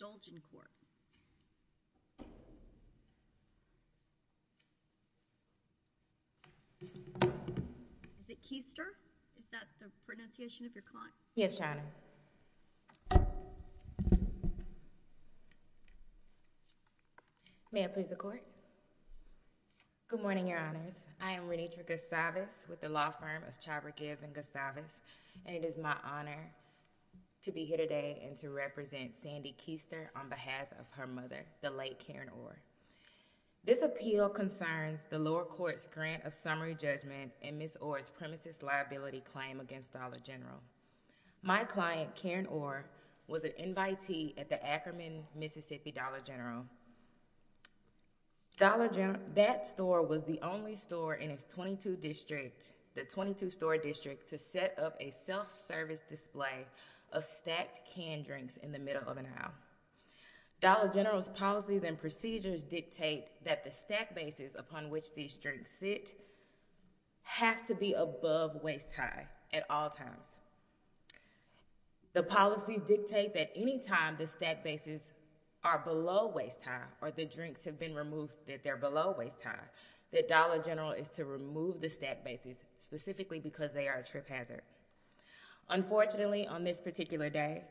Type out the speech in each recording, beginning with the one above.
Dolgencorp. Is it Keister? Is that the pronunciation of your client? Yes, Chyna. May I please accord? Good morning, your honors. I am Renitra Gustavus with the law firm of Chyber Gives and Gustavus and it is my honor to be here today and to represent Sandy Keister on behalf of her mother, the late Karen Orr. This appeal concerns the lower court's grant of summary judgment and Ms. Orr's premises liability claim against Dollar General. My client, Karen Orr, was an invitee at the Ackerman Mississippi Dollar General. Dollar General, that store was the only store in its 22 district, the 22 store district, to set up a self-service display of stacked canned drinks in the middle of an aisle. Dollar General's policies and procedures dictate that the stack bases upon which these drinks sit have to be above waist-high at all times. The policies dictate that anytime the stack bases are below waist-high or the drinks have been removed that they're below waist-high, that Dollar General is to remove the stack bases specifically because they are a trip hazard. Unfortunately, on this particular day,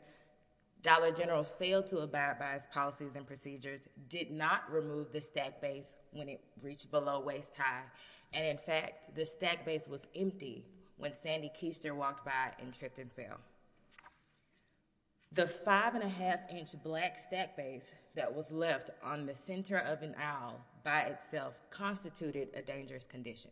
Dollar General failed to abide by its policies and procedures, did not remove the stack base when it reached below waist-high, and in fact the stack base was empty when Sandy Keister walked by and tripped and fell. The five and a half inch black stack base that was left on the center of an aisle by itself constituted a dangerous condition.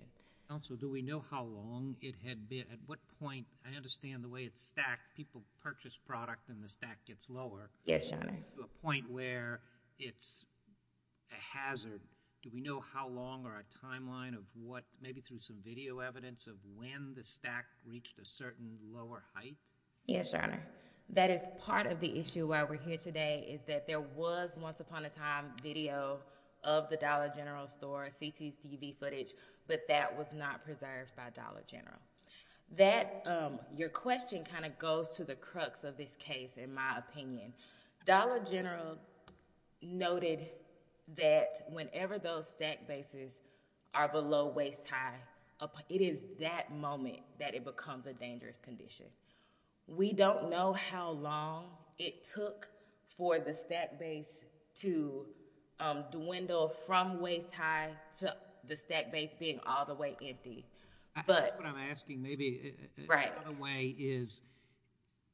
Counsel, do we know how long it had been, at what point, I understand the way it's stacked, people purchase product and the stack gets lower. Yes, Your Honor. To a point where it's a hazard. Do we know how long or a timeline of what, maybe through some video evidence, of when the stack reached a certain lower height? Yes, Your Honor. That is part of the issue why we're here today, is that there was once upon a time video of the Dollar General store, CCTV footage, but that was not preserved by Dollar General. Your question kind of goes to the crux of this case, in my opinion. Dollar General noted that whenever those stack bases are below waist-high, it is that moment that it becomes a dangerous condition. We don't know how long it took for the stack base to dwindle from waist-high to the stack base being all the way empty. That's what I'm asking. Maybe another way is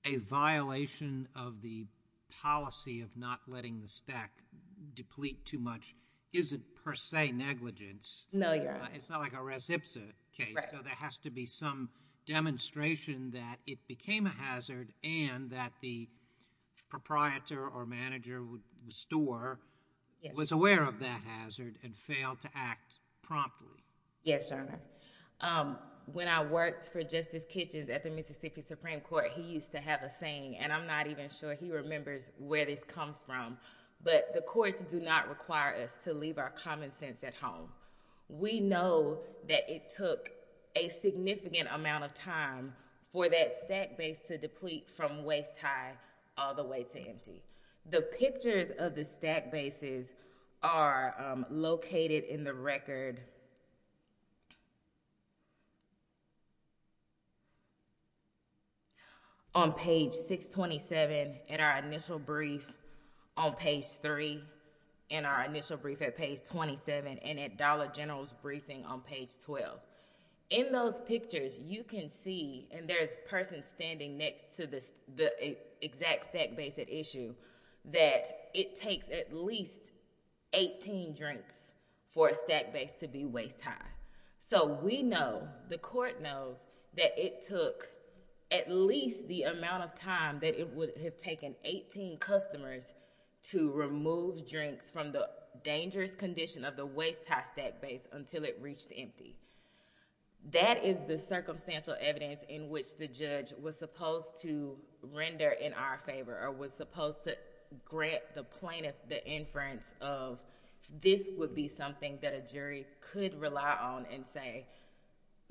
a violation of the policy of not letting the stack deplete too much isn't, per se, negligence. No, Your Honor. It's not like a res ipsa case. Right. There has to be some demonstration that it became a hazard and that the proprietor or manager of the store was aware of that hazard and failed to act promptly. Yes, Your Honor. When I worked for Justice Kitchens at the Mississippi Supreme Court, he used to have a saying, and I'm not even sure he remembers where this comes from, but the courts do not require us to leave our common sense at home. We know that it took a significant amount of time for that stack base to deplete from waist-high all the way to empty. The pictures of the stack bases are located in the record on page 627 in our initial brief on page 3 in our initial brief at page 27 and at Dollar General's briefing on page 12. In those pictures, you can see, and there's a person standing next to the exact stack base at issue, that it takes at least 18 drinks for a stack base to be waist-high. We know, the court knows, that it took at least the amount of time that it would have taken 18 customers to remove drinks from the dangerous condition of the waist-high stack base until it reached empty. That is the circumstantial evidence in which the judge was supposed to render in our favor or was supposed to grant the plaintiff the inference of this would be something that a jury could rely on and say,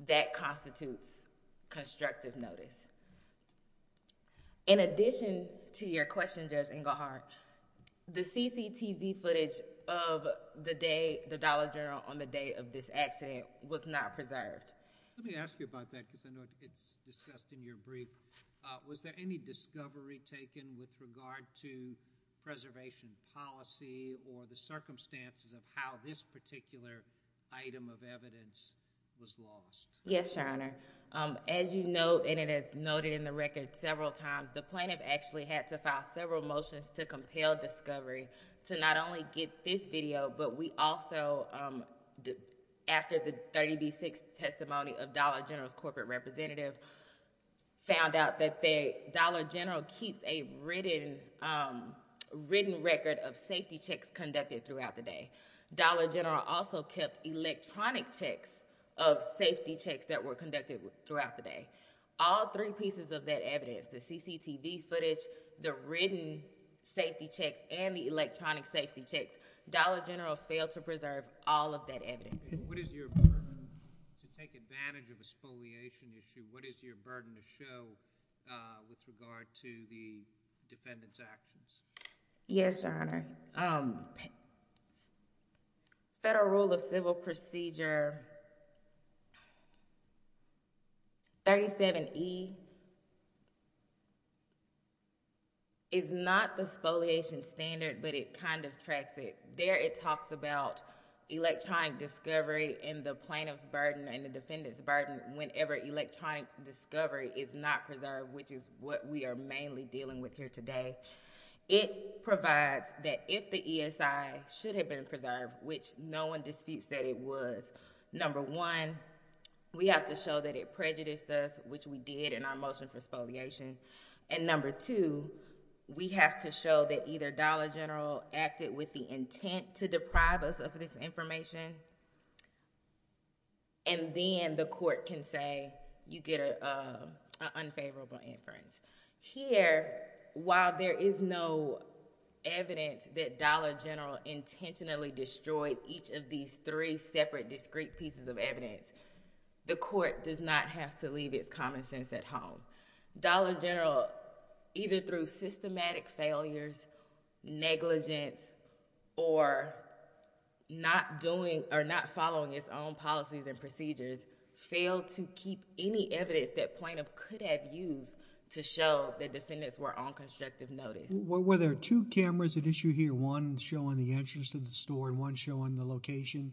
that constitutes constructive notice. In addition to your question, Judge Engelhardt, the CCTV footage of the day, the Dollar General, on the day of this accident was not preserved. Let me ask you about that because I know it's discussed in your brief. Was there any discovery taken with regard to preservation policy or the circumstances of how this particular item of evidence was lost? Yes, Your Honor. As you know, and it is noted in the record several times, the plaintiff actually had to file several motions to compel discovery to not only get this video, but we also, after the 30B6 testimony of Dollar General's corporate representative, found out that Dollar General keeps a written record of safety checks conducted throughout the day. Dollar General also kept electronic checks of safety checks that were conducted throughout the day. All three pieces of that evidence, the CCTV footage, the written safety checks, and the electronic safety checks, Dollar General failed to preserve all of that evidence. What is your burden to take advantage of a spoliation issue? What is your burden to show with regard to the defendant's actions? Yes, Your Honor. Federal Rule of Civil Procedure 37E is not the spoliation standard, but it kind of tracks it. There it talks about electronic discovery and the plaintiff's burden and the defendant's burden whenever electronic discovery is not preserved, which is what we are mainly dealing with here today. It provides that if the ESI should have been preserved, which no one disputes that it was, number one, we have to show that it prejudiced us, which we did in our motion for spoliation, and number two, we have to show that either Dollar General acted with the intent to deprive us of this information, and then the court can say, you get an unfavorable inference. Here, while there is no evidence that Dollar General intentionally destroyed each of these three separate discrete pieces of evidence, the court does not have to leave its common sense at home. Dollar General, either through systematic failures, negligence, or not following its own policies and procedures, failed to keep any evidence that plaintiff could have used to show that defendants were on constructive notice. Were there two cameras at issue here, one showing the entrance of the store and one showing the location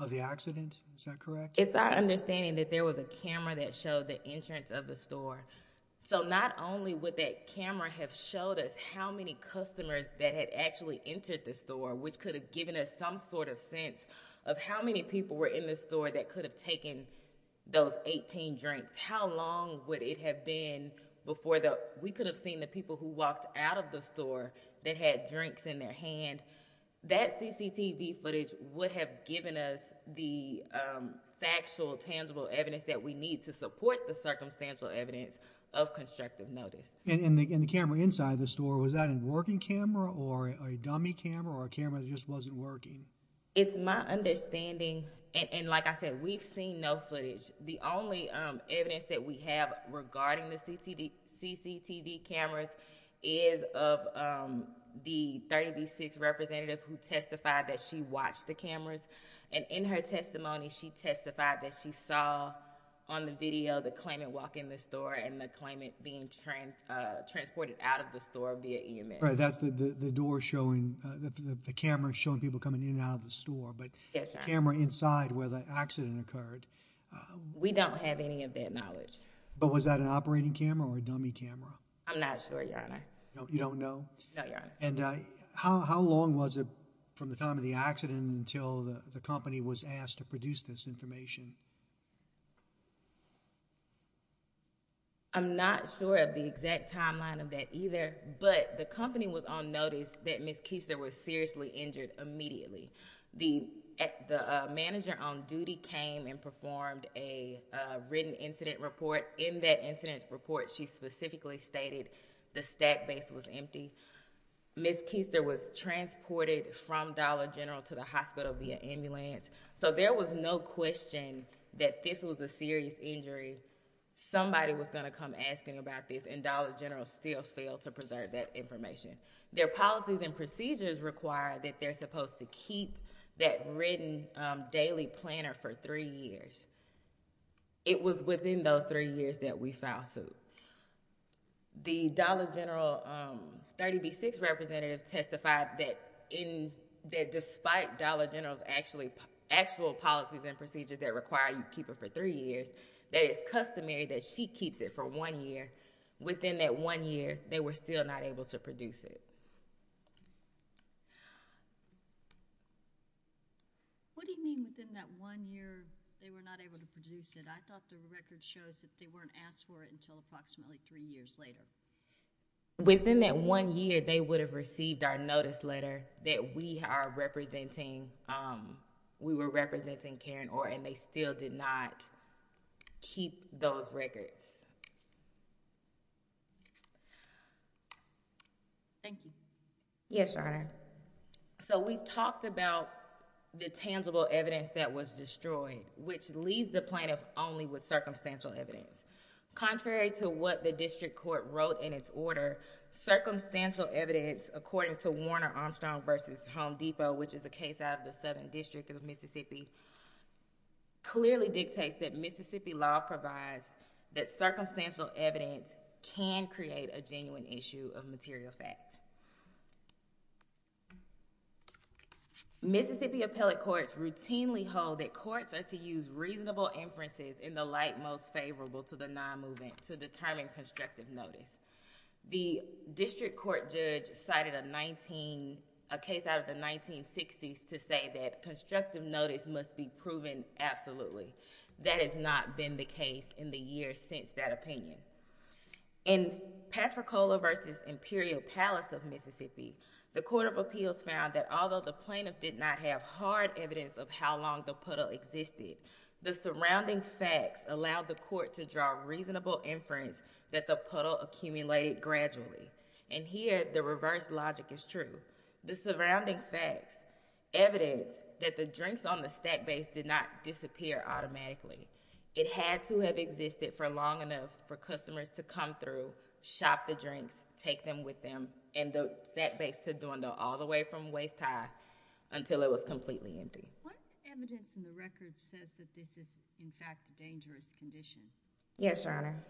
of the accident? Is that correct? It's our understanding that there was a camera that showed the entrance of the store. Not only would that camera have showed us how many customers that had actually entered the store, which could have given us some sort of sense of how many people were in the store that could have taken those 18 drinks, how long would it have been before we could have seen the people who walked out of the store that had drinks in their hand? That CCTV footage would have given us the factual, tangible evidence that we need to support the circumstantial evidence of constructive notice. And the camera inside the store, was that a working camera or a dummy camera or a camera that just wasn't working? It's my understanding, and like I said, we've seen no footage. The only evidence that we have regarding the CCTV cameras is of the 36 representatives who testified that she watched the cameras. And in her testimony, she testified that she saw on the video the claimant walking in the store and the claimant being transported out of the store via EMS. Right, that's the door showing, the camera showing people coming in and out of the store. But the camera inside where the accident occurred. We don't have any of that knowledge. But was that an operating camera or a dummy camera? I'm not sure, Your Honor. You don't know? No, Your Honor. And how long was it from the time of the accident until the company was asked to produce this information? I'm not sure of the exact timeline of that either, but the company was on notice that Ms. Keister was seriously injured immediately. The manager on duty came and performed a written incident report. In that incident report, she specifically stated the stack base was empty. Ms. Keister was transported from Dollar General to the hospital via ambulance. So there was no question that this was a serious injury. Somebody was going to come asking about this, and Dollar General still failed to preserve that information. Their policies and procedures require that they're supposed to keep that written daily planner for three years. It was within those three years that we filed suit. The Dollar General 30B-6 representative testified that despite Dollar General's actual policies and procedures that require you keep it for three years, that it's customary that she keeps it for one year. Within that one year, they were still not able to produce it. What do you mean within that one year they were not able to produce it? I thought the record shows that they weren't asked for it until approximately three years later. Within that one year, they would have received our notice letter that we are representing, we were representing Karen Orr, and they still did not keep those records. Thank you. Yes, Your Honor. We talked about the tangible evidence that was destroyed, which leaves the plaintiff only with circumstantial evidence. Contrary to what the district court wrote in its order, circumstantial evidence, according to Warner Armstrong v. Home Depot, which is a case out of the Southern District of Mississippi, clearly dictates that Mississippi law provides that circumstantial evidence can create a genuine issue of material fact. Mississippi appellate courts routinely hold that courts are to use reasonable inferences in the light most favorable to the non-movement to determine constructive notice. The district court judge cited a case out of the 1960s to say that constructive notice must be proven absolutely. That has not been the case in the years since that opinion. In Patricola v. Imperial Palace of Mississippi, the Court of Appeals found that although the plaintiff did not have hard evidence of how long the puddle existed, the surrounding facts allowed the court to draw reasonable inference that the puddle accumulated gradually. And here, the reverse logic is true. The surrounding facts evidence that the drinks on the stack base did not disappear automatically. It had to have existed for long enough for customers to come through, shop the drinks, take them with them, and the stack base to dwindle all the way from waist high until it was completely empty. What evidence in the record says that this is, in fact, a dangerous condition? Yes, Your Honor.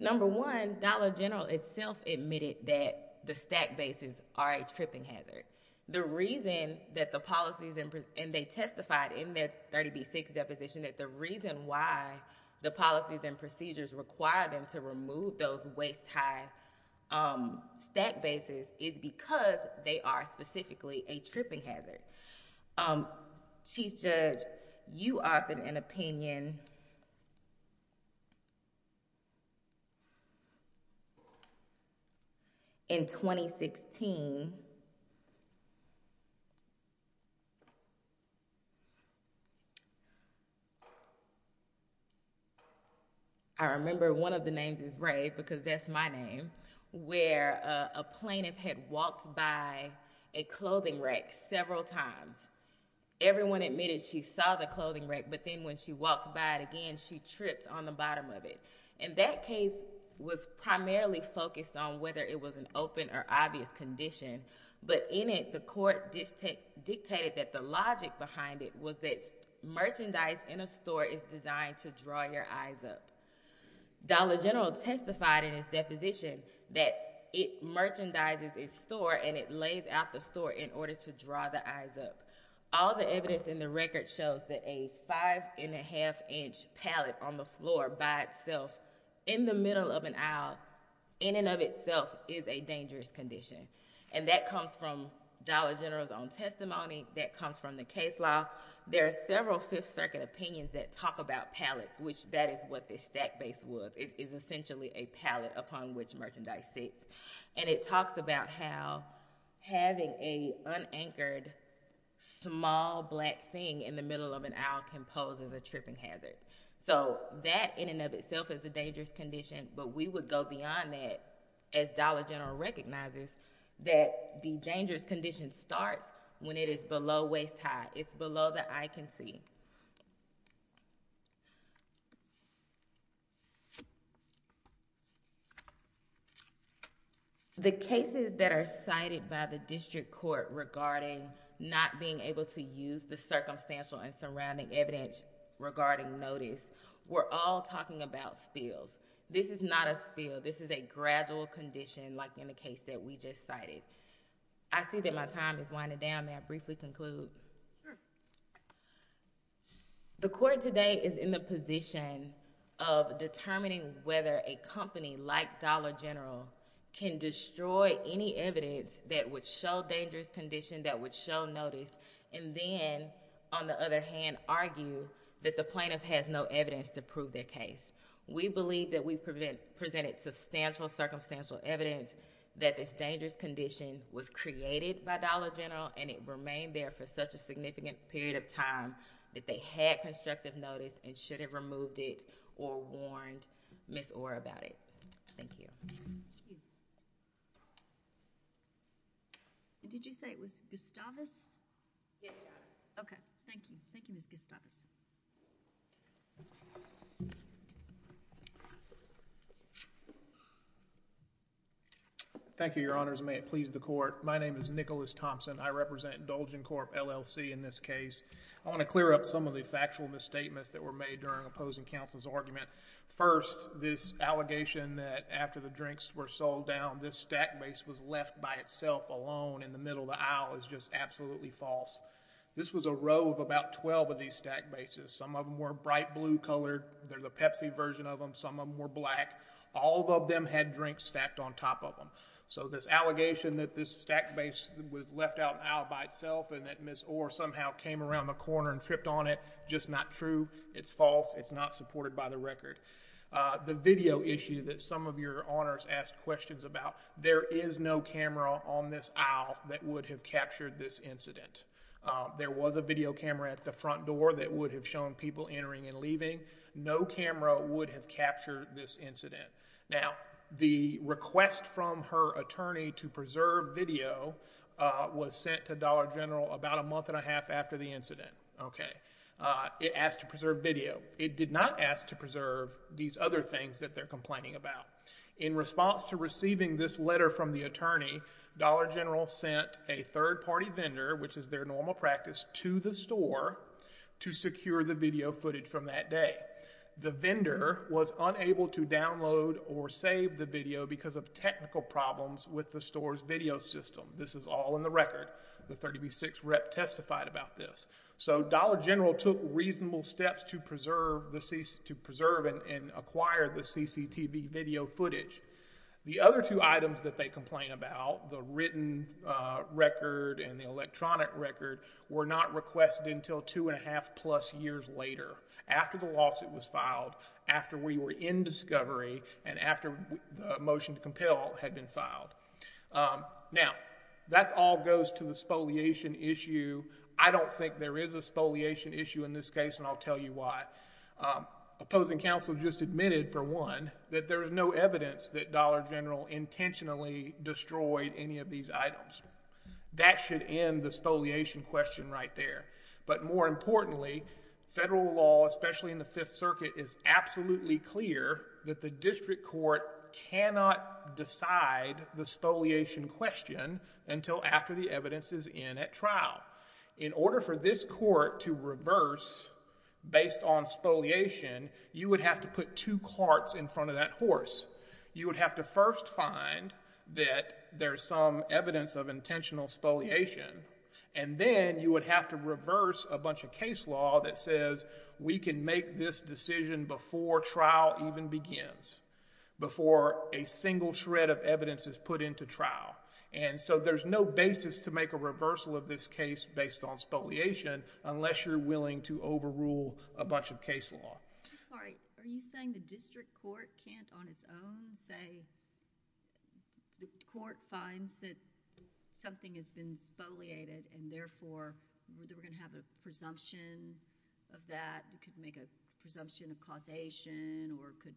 Number one, Dollar General itself admitted that the stack bases are a tripping hazard. The reason that the policies and they testified in their 30B6 deposition that the reason why the policies and procedures require them to remove those waist high stack bases is because they are specifically a tripping hazard. Chief Judge, you authored an opinion in 2016. I remember one of the names is Ray because that's my name, where a plaintiff had walked by a clothing rack several times. Everyone admitted she saw the clothing rack, but then when she walked by it again, she tripped on the bottom of it. And that case was primarily focused on whether it was an open or obvious condition. But in it, the court dictated that the logic behind it was that merchandise in a store is designed to draw your eyes up. Dollar General testified in his deposition that it merchandises its store and it lays out the store in order to draw the eyes up. All the evidence in the record shows that a five and a half inch pallet on the floor by itself in the middle of an aisle, in and of itself, is a dangerous condition. And that comes from Dollar General's own testimony. That comes from the case law. There are several Fifth Circuit opinions that talk about pallets, which that is what this stack base was. It is essentially a pallet upon which merchandise sits. And it talks about how having a unanchored, small black thing in the middle of an aisle can pose as a tripping hazard. So that in and of itself is a dangerous condition, but we would go beyond that as Dollar General recognizes that the dangerous condition starts when it is below waist high. It's below the eye can see. The cases that are cited by the district court regarding not being able to use the circumstantial and surrounding evidence regarding notice, we're all talking about spills. This is not a spill. This is a gradual condition like in the case that we just cited. I see that my time is winding down. May I briefly conclude? Sure. The court today is in the position of determining whether a company like Dollar General can destroy any evidence that would show dangerous condition, that would show notice, and then, on the other hand, argue that the plaintiff has no evidence to prove their case. We believe that we presented substantial circumstantial evidence that this dangerous condition was created by Dollar General and it remained there for such a significant period of time that they had constructive notice and should have removed it or warned Ms. Orr about it. Thank you. Did you say it was Gustavus? Yes, Your Honor. Okay. Thank you. Thank you, Ms. Gustavus. Thank you, Your Honors. May it please the court. My name is Nicholas Thompson. I represent Dolgen Corp, LLC in this case. I want to clear up some of the factual misstatements that were made during opposing counsel's First, this allegation that after the drinks were sold down, this stack base was left by itself alone in the middle of the aisle is just absolutely false. This was a row of about 12 of these stack bases. Some of them were bright blue colored. There's a Pepsi version of them. Some of them were black. All of them had drinks stacked on top of them. So, this allegation that this stack base was left out in the aisle by itself and that Ms. Orr somehow came around the corner and tripped on it, just not true. It's false. It's not supported by the record. The video issue that some of Your Honors asked questions about, there is no camera on this aisle that would have captured this incident. There was a video camera at the front door that would have shown people entering and No camera would have captured this incident. Now, the request from her attorney to preserve video was sent to Dollar General about a month and a half after the incident. It asked to preserve video. It did not ask to preserve these other things that they're complaining about. In response to receiving this letter from the attorney, Dollar General sent a third-party vendor, which is their normal practice, to the store to secure the video footage from that day. The vendor was unable to download or save the video because of technical problems with the store's video system. This is all in the record. The 30B6 rep testified about this. So Dollar General took reasonable steps to preserve and acquire the CCTV video footage. The other two items that they complain about, the written record and the electronic record, were not requested until two-and-a-half-plus years later, after the lawsuit was filed, after we were in discovery, and after the motion to compel had been filed. Now, that all goes to the spoliation issue. I don't think there is a spoliation issue in this case, and I'll tell you why. Opposing counsel just admitted, for one, that there is no evidence that Dollar General intentionally destroyed any of these items. That should end the spoliation question right there. But more importantly, federal law, especially in the Fifth Circuit, is absolutely clear that the district court cannot decide the spoliation question until after the evidence is in at trial. In order for this court to reverse, based on spoliation, you would have to put two carts in front of that horse. You would have to first find that there is some evidence of intentional spoliation, and then you would have to reverse a bunch of case law that says, we can make this decision before trial even begins, before a single shred of evidence is put into trial. And so there's no basis to make a reversal of this case based on spoliation, unless you're willing to overrule a bunch of case law. I'm sorry, are you saying the district court can't on its own say, the court finds that something has been spoliated, and therefore, we're going to have a presumption of that, it could make a presumption of causation, or could,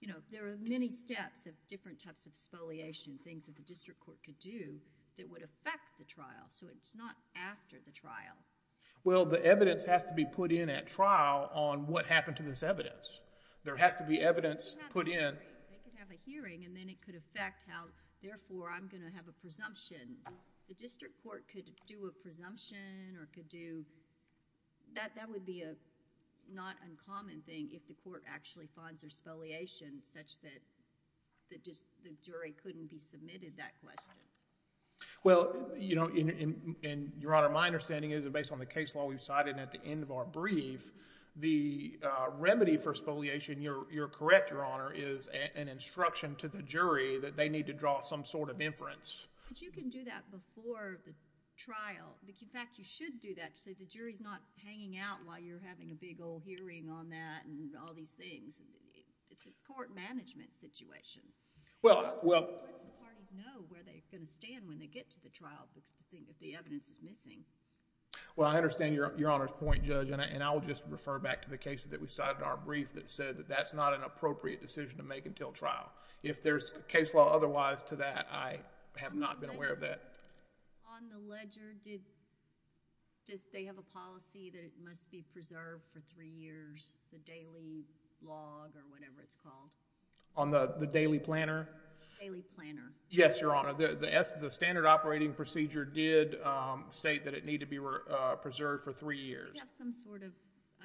you know, there are many steps of different types of spoliation, things that the district court could do that would affect the trial, so it's not after the trial. Well, the evidence has to be put in at trial on what happened to this evidence. There has to be evidence put in. They could have a hearing, and then it could affect how, therefore, I'm going to have a presumption. The district court could do a presumption, or could do, that would be a not uncommon thing, if the court actually finds there's spoliation, such that the jury couldn't be submitted that question. Well, you know, Your Honor, my understanding is, based on the case law we've cited at the end of our brief, the remedy for spoliation, you're correct, Your Honor, is an instruction to the jury that they need to draw some sort of inference. But you can do that before the trial. In fact, you should do that, so the jury's not hanging out while you're having a big old hearing on that and all these things. It's a court management situation. Well, well. The parties know where they're going to stand when they get to the trial if the evidence is missing. Well, I understand Your Honor's point, Judge, and I'll just refer back to the case that we cited in our brief that said that that's not an appropriate decision to make until trial. If there's case law otherwise to that, I have not been aware of that. On the ledger, does they have a policy that it must be preserved for three years, the daily log or whatever it's called? On the daily planner? Daily planner. Yes, Your Honor. The standard operating procedure did state that it needed to be preserved for three years. Do you have some sort of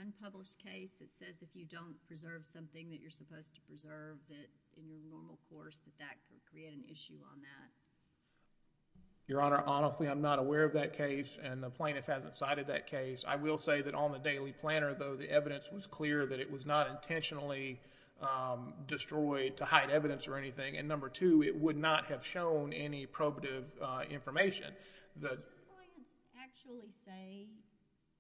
unpublished case that says if you don't preserve something that you're supposed to preserve that in the normal course that that could create an issue on that? Your Honor, honestly, I'm not aware of that case, and the plaintiff hasn't cited that case. I will say that on the daily planner, though, the evidence was clear that it was not intentionally destroyed to hide evidence or anything, and number two, it would not have shown any probative information. Do your clients actually say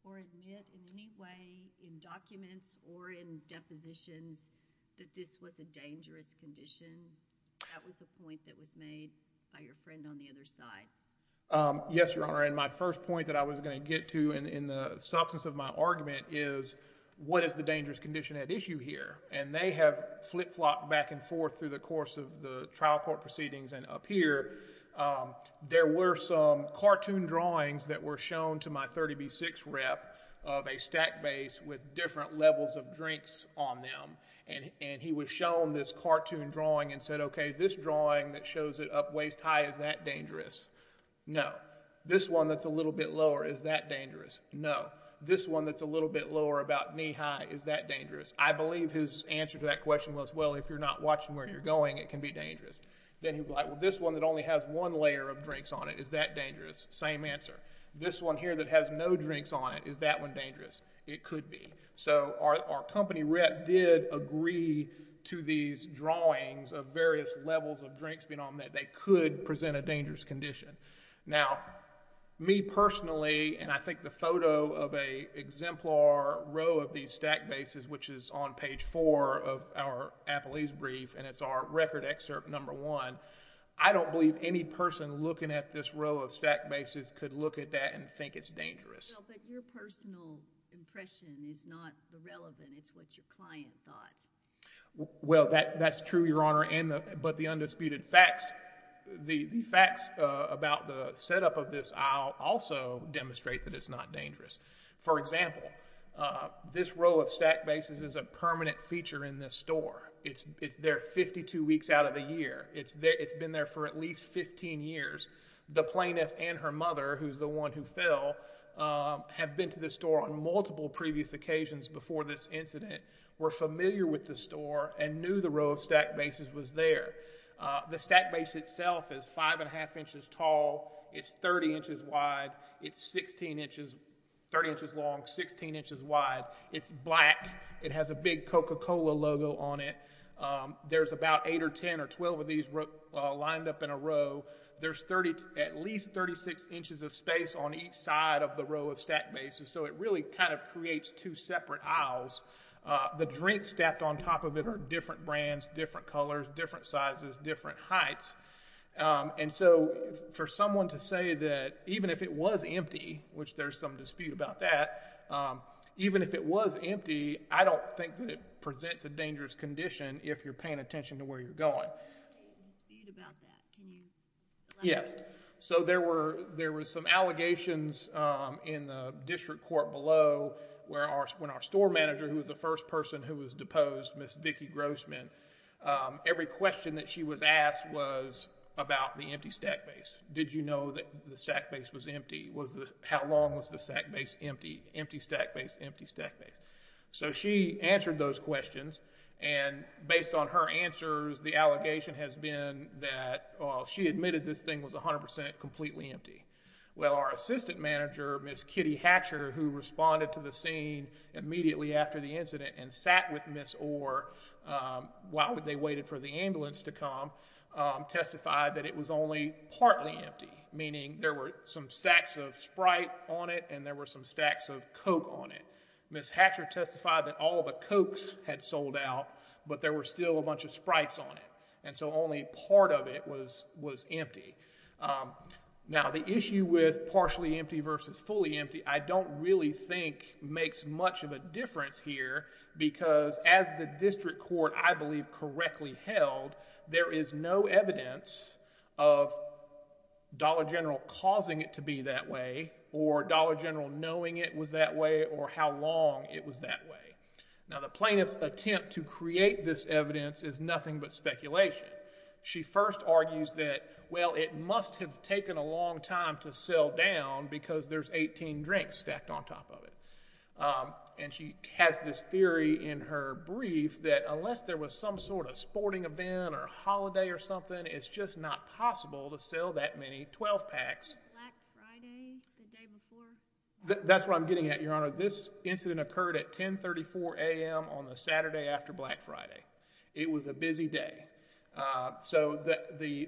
or admit in any way in documents or in depositions that this was a dangerous condition? That was a point that was made by your friend on the other side. Yes, Your Honor, and my first point that I was going to get to in the substance of my argument is what is the dangerous condition at issue here? And they have flip-flopped back and forth through the course of the trial court proceedings and up here. There were some cartoon drawings that were shown to my 30B6 rep of a stack base with different levels of drinks on them, and he was shown this cartoon drawing and said, OK, this drawing that shows it up waist-high, is that dangerous? No. This one that's a little bit lower, is that dangerous? No. This one that's a little bit lower about knee-high, is that dangerous? I believe his answer to that question was, well, if you're not watching where you're going, it can be dangerous. Then he was like, well, this one that only has one layer of drinks on it, is that dangerous? Same answer. This one here that has no drinks on it, is that one dangerous? It could be. So our company rep did agree to these drawings of various levels of drinks being on them that they could present a dangerous condition. Now, me personally, and I think the photo of an exemplar row of these stack bases, which is on page 4 of our appellee's brief, and it's our record excerpt number 1, I don't believe any person looking at this row of stack bases could look at that and think it's dangerous. Well, but your personal impression is not the relevant. It's what your client thought. Well, that's true, Your Honor, but the undisputed facts, the facts about the setup of this aisle also demonstrate that it's not dangerous. For example, this row of stack bases is a permanent feature in this store. It's there 52 weeks out of the year. It's been there for at least 15 years. The plaintiff and her mother, who's the one who fell, have been to this store on multiple previous occasions before this incident, were familiar with the store, and knew the row of stack bases was there. The stack base itself is 5 1⁄2 inches tall. It's 30 inches wide. It's 30 inches long, 16 inches wide. It's black. It has a big Coca-Cola logo on it. There's about 8 or 10 or 12 of these lined up in a row. There's at least 36 inches of space on each side of the row of stack bases, so it really kind of creates two separate aisles. The drinks stacked on top of it are different brands, different colors, different sizes, different heights. And so for someone to say that even if it was empty, which there's some dispute about that, even if it was empty, I don't think that it presents a dangerous condition if you're paying attention to where you're going. There's a dispute about that. Can you elaborate? So there were some allegations in the district court below when our store manager, who was the first person who was deposed, Ms. Vicki Grossman, every question that she was asked was about the empty stack base. Did you know that the stack base was empty? How long was the stack base empty? Empty stack base, empty stack base. So she answered those questions, and based on her answers, the allegation has been that she admitted this thing was 100% completely empty. Well, our assistant manager, Ms. Kitty Hatcher, who responded to the scene immediately after the incident and sat with Ms. Orr while they waited for the ambulance to come, testified that it was only partly empty, meaning there were some stacks of Sprite on it and there were some stacks of Coke on it. Ms. Hatcher testified that all of the Cokes had sold out, but there were still a bunch of Sprites on it, and so only part of it was empty. Now, the issue with partially empty versus fully empty I don't really think makes much of a difference here because as the district court, I believe, correctly held, there is no evidence of Dollar General causing it to be that way or Dollar General knowing it was that way or how long it was that way. Now, the plaintiff's attempt to create this evidence is nothing but speculation. She first argues that, well, it must have taken a long time to sell down because there's 18 drinks stacked on top of it. And she has this theory in her brief that unless there was some sort of sporting event or holiday or something, it's just not possible to sell that many 12-packs. Black Friday, the day before? That's where I'm getting at, Your Honor. This incident occurred at 10.34 a.m. on the Saturday after Black Friday. It was a busy day. So the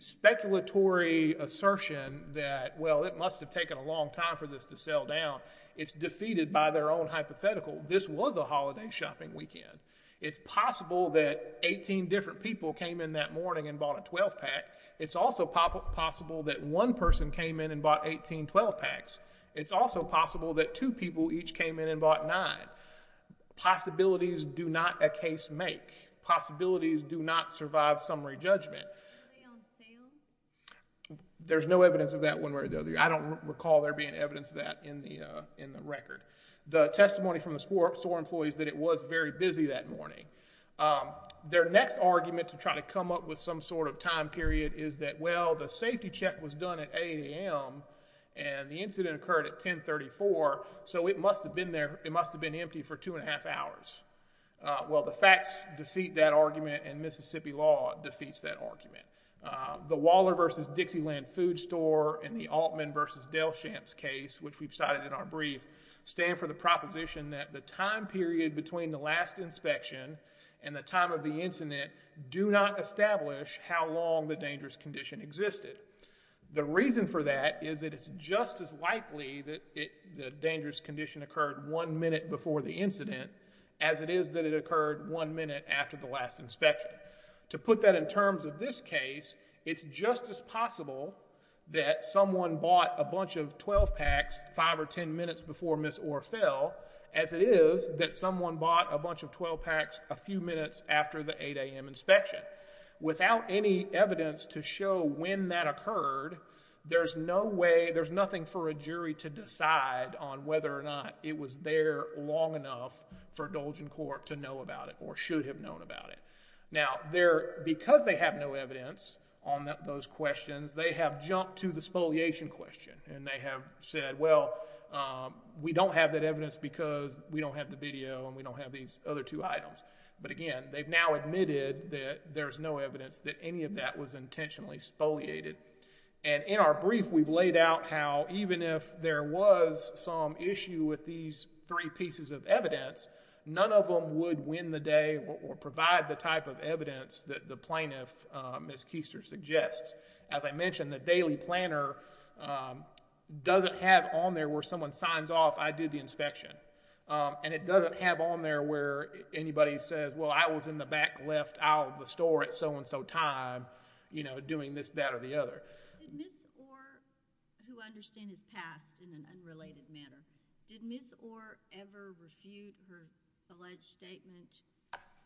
speculatory assertion that, well, it must have taken a long time for this to sell down, it's defeated by their own hypothetical. This was a holiday shopping weekend. It's possible that 18 different people came in that morning and bought a 12-pack. It's also possible that one person came in and bought 18 12-packs. It's also possible that two people each came in and bought nine. Possibilities do not a case make. Possibilities do not survive summary judgment. Were they on sale? There's no evidence of that one way or the other. I don't recall there being evidence of that in the record. The testimony from the store employees that it was very busy that morning. Their next argument to try to come up with some sort of time period is that, well, the safety check was done at 8 a.m. and the incident occurred at 10.34, so it must have been empty for two and a half hours. Well, the facts defeat that argument and Mississippi law defeats that argument. The Waller v. Dixieland Food Store and the Altman v. Del Shamps case, which we've cited in our brief, stand for the proposition that the time period between the last inspection and the time of the incident do not establish how long the dangerous condition existed. The reason for that is that it's just as likely that the dangerous condition occurred one minute before the incident as it is that it occurred one minute after the last inspection. To put that in terms of this case, it's just as possible that someone bought a bunch of 12-packs 5 or 10 minutes before Ms. Orr fell as it is that someone bought a bunch of 12-packs a few minutes after the 8 a.m. inspection. Without any evidence to show when that occurred, there's no way, there's nothing for a jury to decide on whether or not it was there long enough for Dolgen Corp. to know about it or should have known about it. Now, because they have no evidence on those questions, they have jumped to the spoliation question, and they have said, well, we don't have that evidence because we don't have the video and we don't have these other two items. But again, they've now admitted that there's no evidence that any of that was intentionally spoliated. And in our brief, we've laid out how, even if there was some issue with these three pieces of evidence, none of them would win the day or provide the type of evidence that the plaintiff, Ms. Keister, suggests. As I mentioned, the daily planner doesn't have on there where someone signs off, I did the inspection. And it doesn't have on there where anybody says, well, I was in the back left aisle of the store at so-and-so time doing this, that, or the other. Did Ms. Orr, who I understand has passed in an unrelated manner, did Ms. Orr ever refute her alleged statement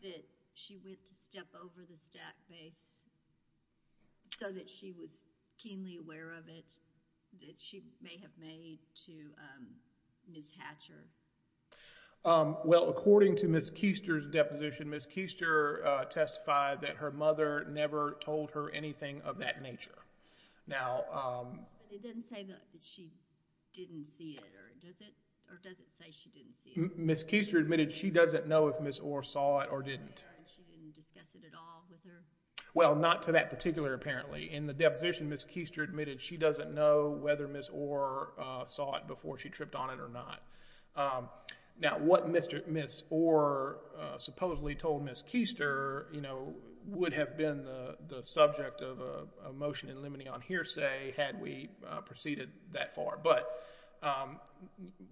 that she went to step over the stack base so that she was keenly aware of it, that she may have made to Ms. Hatcher? Well, according to Ms. Keister's deposition, Ms. Keister testified that her mother never told her anything of that nature. But it doesn't say that she didn't see it, or does it? Or does it say she didn't see it? Ms. Keister admitted she doesn't know if Ms. Orr saw it or didn't. She didn't discuss it at all with her? Well, not to that particular apparently. In the deposition, Ms. Keister admitted she doesn't know whether Ms. Orr saw it before she tripped on it or not. Now, what Ms. Orr supposedly told Ms. Keister, you know, could have been the subject of a motion in limine on hearsay had we proceeded that far. But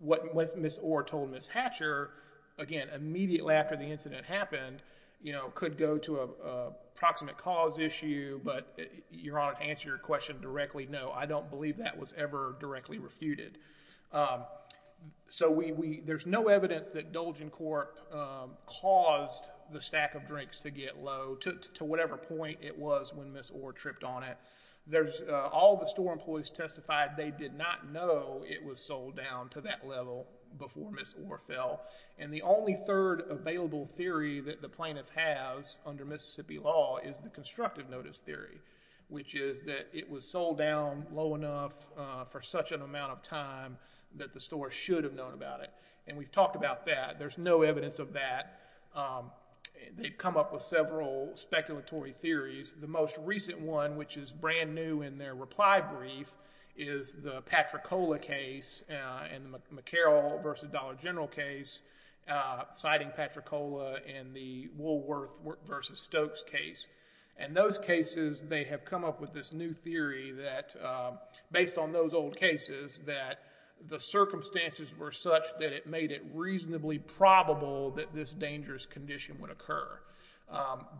what Ms. Orr told Ms. Hatcher, again, immediately after the incident happened, you know, could go to a proximate cause issue, but Your Honor, to answer your question directly, no, I don't believe that was ever directly refuted. So there's no evidence that Dolgen Corp caused the stack of drinks to get low to whatever point it was when Ms. Orr tripped on it. All the store employees testified they did not know it was sold down to that level before Ms. Orr fell. And the only third available theory that the plaintiff has under Mississippi law is the constructive notice theory, which is that it was sold down low enough for such an amount of time that the store should have known about it. And we've talked about that. There's no evidence of that. They've come up with several speculatory theories. The most recent one, which is brand new in their reply brief, is the Patricola case and the McCarroll v. Dollar General case, citing Patricola in the Woolworth v. Stokes case. And those cases, they have come up with this new theory that, based on those old cases, that the circumstances were such that it made it reasonably probable that this dangerous condition would occur.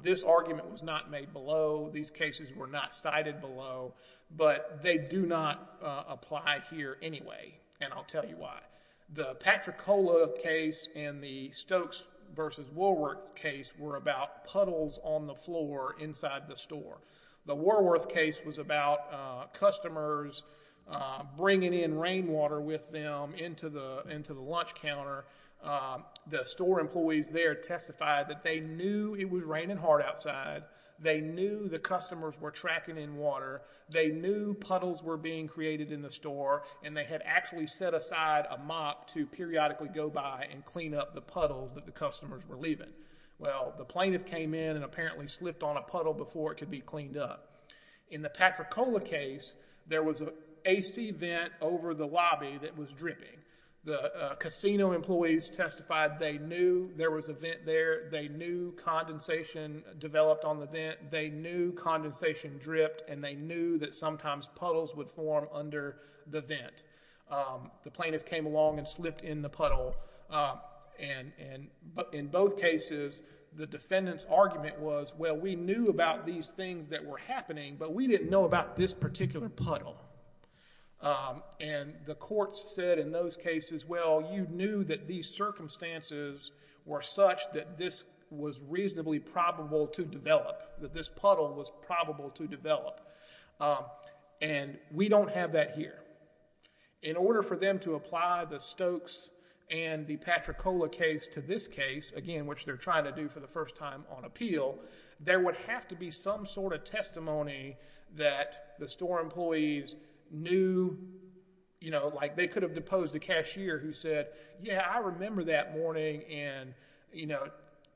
This argument was not made below. These cases were not cited below. But they do not apply here anyway, and I'll tell you why. The Patricola case and the Stokes v. Woolworth case were about puddles on the floor inside the store. The Woolworth case was about customers bringing in rainwater with them into the lunch counter. The store employees there testified that they knew it was raining hard outside, they knew the customers were tracking in water, they knew puddles were being created in the store, and they had actually set aside a mop to periodically go by and clean up the puddles that the customers were leaving. Well, the plaintiff came in and apparently slipped on a puddle before it could be cleaned up. In the Patricola case, there was an AC vent over the lobby that was dripping. The casino employees testified they knew there was a vent there, they knew condensation developed on the vent, they knew condensation dripped, and they knew that sometimes puddles would form under the vent. The plaintiff came along and slipped in the puddle. In both cases, the defendant's argument was, well, we knew about these things that were happening, but we didn't know about this particular puddle. The court said in those cases, well, you knew that these circumstances were such that this was reasonably probable to develop, that this puddle was probable to develop, and we don't have that here. In order for them to apply the Stokes and the Patricola case to this case, again, which they're trying to do for the first time on appeal, there would have to be some sort of testimony that the store employees knew. They could have deposed a cashier who said, yeah, I remember that morning, and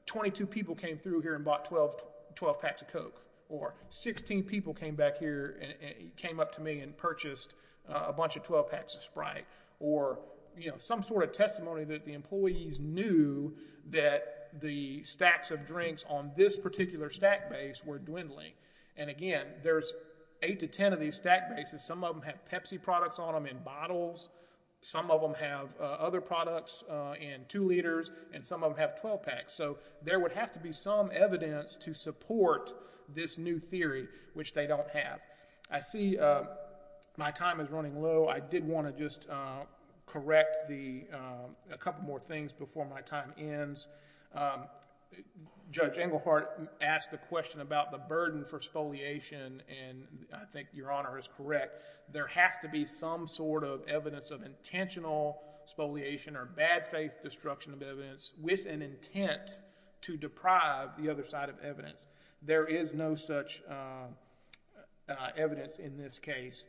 22 people came through here and bought 12 packs of Coke, or 16 people came back here and came up to me and purchased a bunch of 12 packs of Sprite, or some sort of testimony that the employees knew that the stacks of drinks on this particular stack base were dwindling. And again, there's 8 to 10 of these stack bases. Some of them have Pepsi products on them in bottles. Some of them have other products in 2 liters, and some of them have 12 packs. So there would have to be some evidence to support this new theory, which they don't have. I see my time is running low. I did want to just correct a couple more things before my time ends. Judge Englehart asked the question about the burden for spoliation, and I think Your Honor is correct. There has to be some sort of evidence of intentional spoliation or bad faith destruction of evidence with an intent to deprive the other side of evidence. There is no such evidence in this case.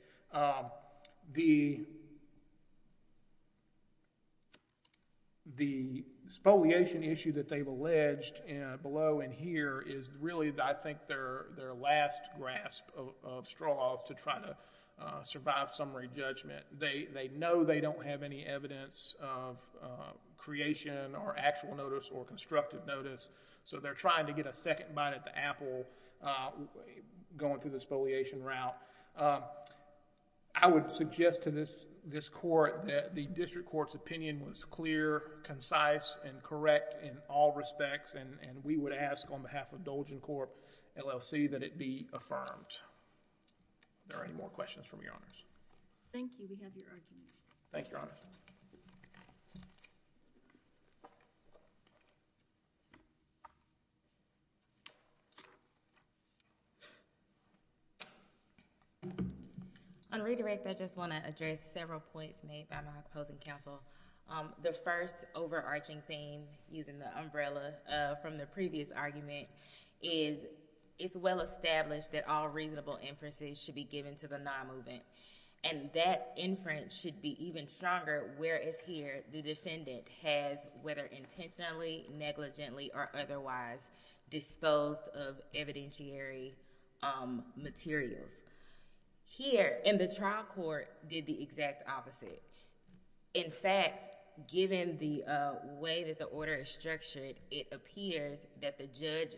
The spoliation issue that they've alleged below and here is really, I think, their last grasp of straws to try to survive summary judgment. They know they don't have any evidence of creation or actual notice or constructive notice, so they're trying to get a second bite at the apple going through the spoliation route. I would suggest to this court that the district court's opinion was clear, concise, and correct in all respects, and we would ask on behalf of Dolgen Corp, LLC, that it be affirmed. Are there any more questions from Your Honors? Thank you. We have your argument. Thank you, Your Honors. On redirect, I just want to address several points made by my opposing counsel. The first overarching theme, using the umbrella from the previous argument, is it's well established that all reasonable inferences should be given to the non-movement, and that inference should be even stronger whereas here the defendant has, whether intentionally, negligently, or otherwise, disposed of evidentiary materials. Here, in the trial court, did the exact opposite. In fact, given the way that the order is structured, it appears that the judge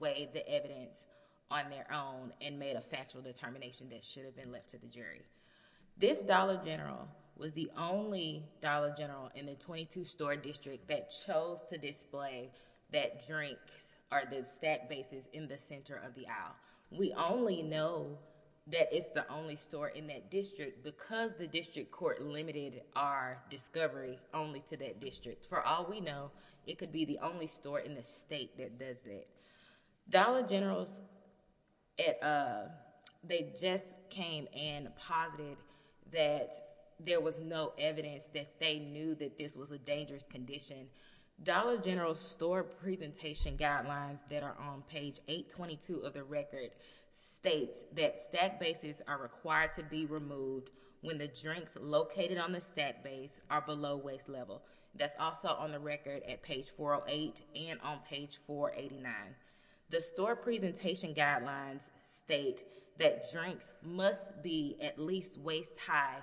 weighed the evidence on their own and made a factual determination that should have been left to the jury. This Dollar General was the only Dollar General in the 22-story district that chose to display that drink or the stack bases in the center of the aisle. We only know that it's the only store in that district because the district court limited our discovery only to that district. For all we know, it could be the only store in the state that does that. Dollar Generals, they just came and posited that there was no evidence that they knew that this was a dangerous condition. Dollar General's store presentation guidelines that are on page 822 of the record state that stack bases are required to be removed when the drinks located on the stack base are below waist level. That's also on the record at page 408 and on page 489. The store presentation guidelines state that drinks must be at least waist high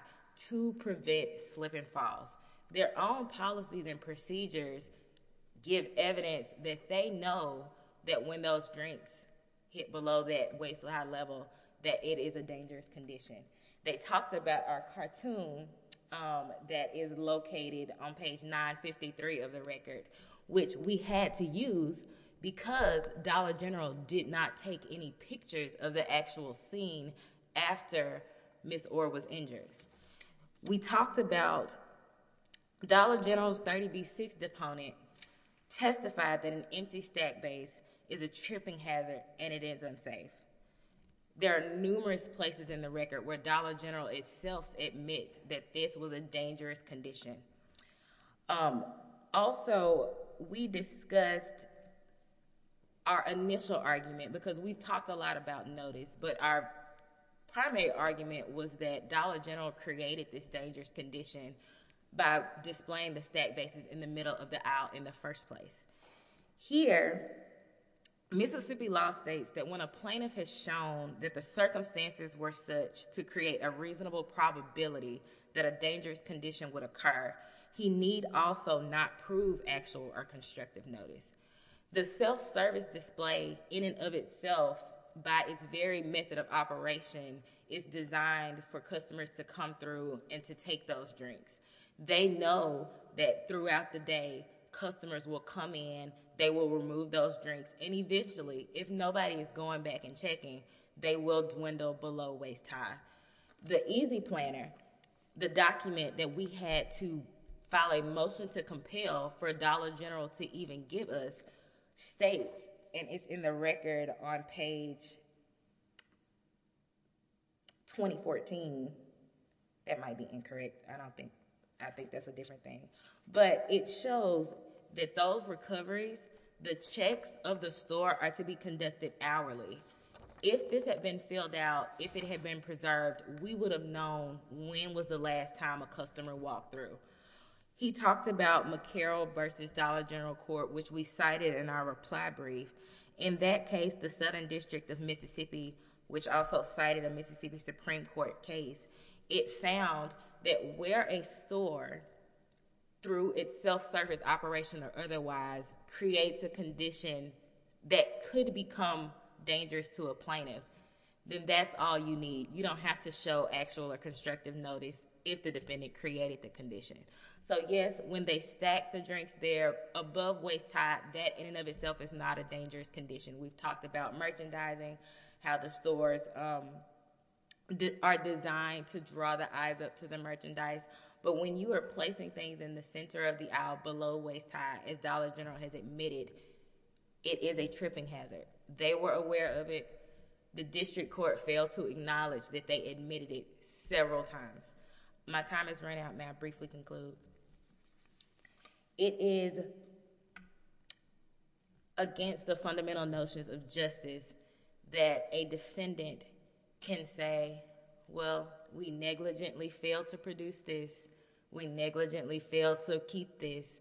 to prevent slip and falls. Their own policies and procedures give evidence that they know that when those drinks hit below that waist-high level that it is a dangerous condition. They talked about our cartoon that is located on page 953 of the record, which we had to use because Dollar General did not take any pictures of the actual scene after Ms. Orr was injured. We talked about Dollar General's 30B6 deponent testified that an empty stack base is a tripping hazard and it is unsafe. There are numerous places in the record where Dollar General itself admits that this was a dangerous condition. Also, we discussed our initial argument because we talked a lot about notice, but our primary argument was that Dollar General created this dangerous condition by displaying the stack bases in the middle of the aisle in the first place. Here, Mississippi law states that when a plaintiff has shown that the circumstances were such to create a reasonable probability that a dangerous condition would occur, he need also not prove actual or constructive notice. The self-service display in and of itself by its very method of operation is designed for customers to come through and to take those drinks. They know that throughout the day, customers will come in, they will remove those drinks, and eventually, if nobody is going back and checking, they will dwindle below waist-high. The easy planner, the document that we had to file a motion to compel for Dollar General to even give us, states, and it's in the record on page... 2014. That might be incorrect. I don't think... I think that's a different thing. But it shows that those recoveries, the checks of the store, are to be conducted hourly. If this had been filled out, if it had been preserved, we would have known when was the last time a customer walked through. He talked about McCarroll v. Dollar General Court, which we cited in our reply brief. In that case, the Southern District of Mississippi, which also cited a Mississippi Supreme Court case, it found that where a store, through its self-service operation or otherwise, creates a condition that could become dangerous to a plaintiff, then that's all you need. You don't have to show actual or constructive notice if the defendant created the condition. So, yes, when they stack the drinks there above waist-high, that in and of itself is not a dangerous condition. We've talked about merchandising, how the stores are designed to draw the eyes up to the merchandise. But when you are placing things in the center of the aisle below waist-high, as Dollar General has admitted, it is a tripping hazard. They were aware of it. The district court failed to acknowledge that they admitted it several times. My time has run out. May I briefly conclude? It is against the fundamental notions of justice that a defendant can say, well, we negligently failed to produce this, we negligently failed to keep this,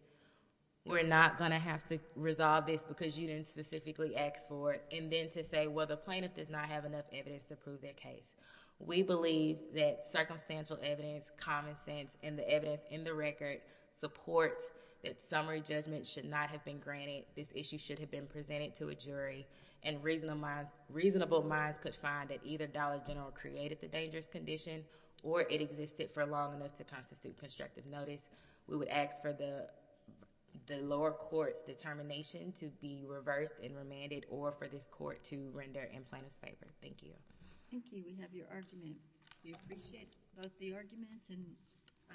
we're not going to have to resolve this because you didn't specifically ask for it, and then to say, well, the plaintiff does not have enough evidence to prove their case. We believe that circumstantial evidence, common sense, and the evidence in the record support that summary judgment should not have been granted, this issue should have been presented to a jury, and reasonable minds could find that either Dollar General created the dangerous condition or it existed for long enough to constitute constructive notice. We would ask for the lower court's determination to be reversed and remanded or for this court to render and plaintiff's favor. Thank you. Thank you. We have your argument. We appreciate both the arguments, and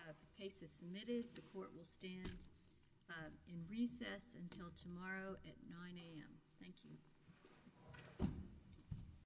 the case is submitted. The court will stand in recess until tomorrow at 9 a.m. Thank you.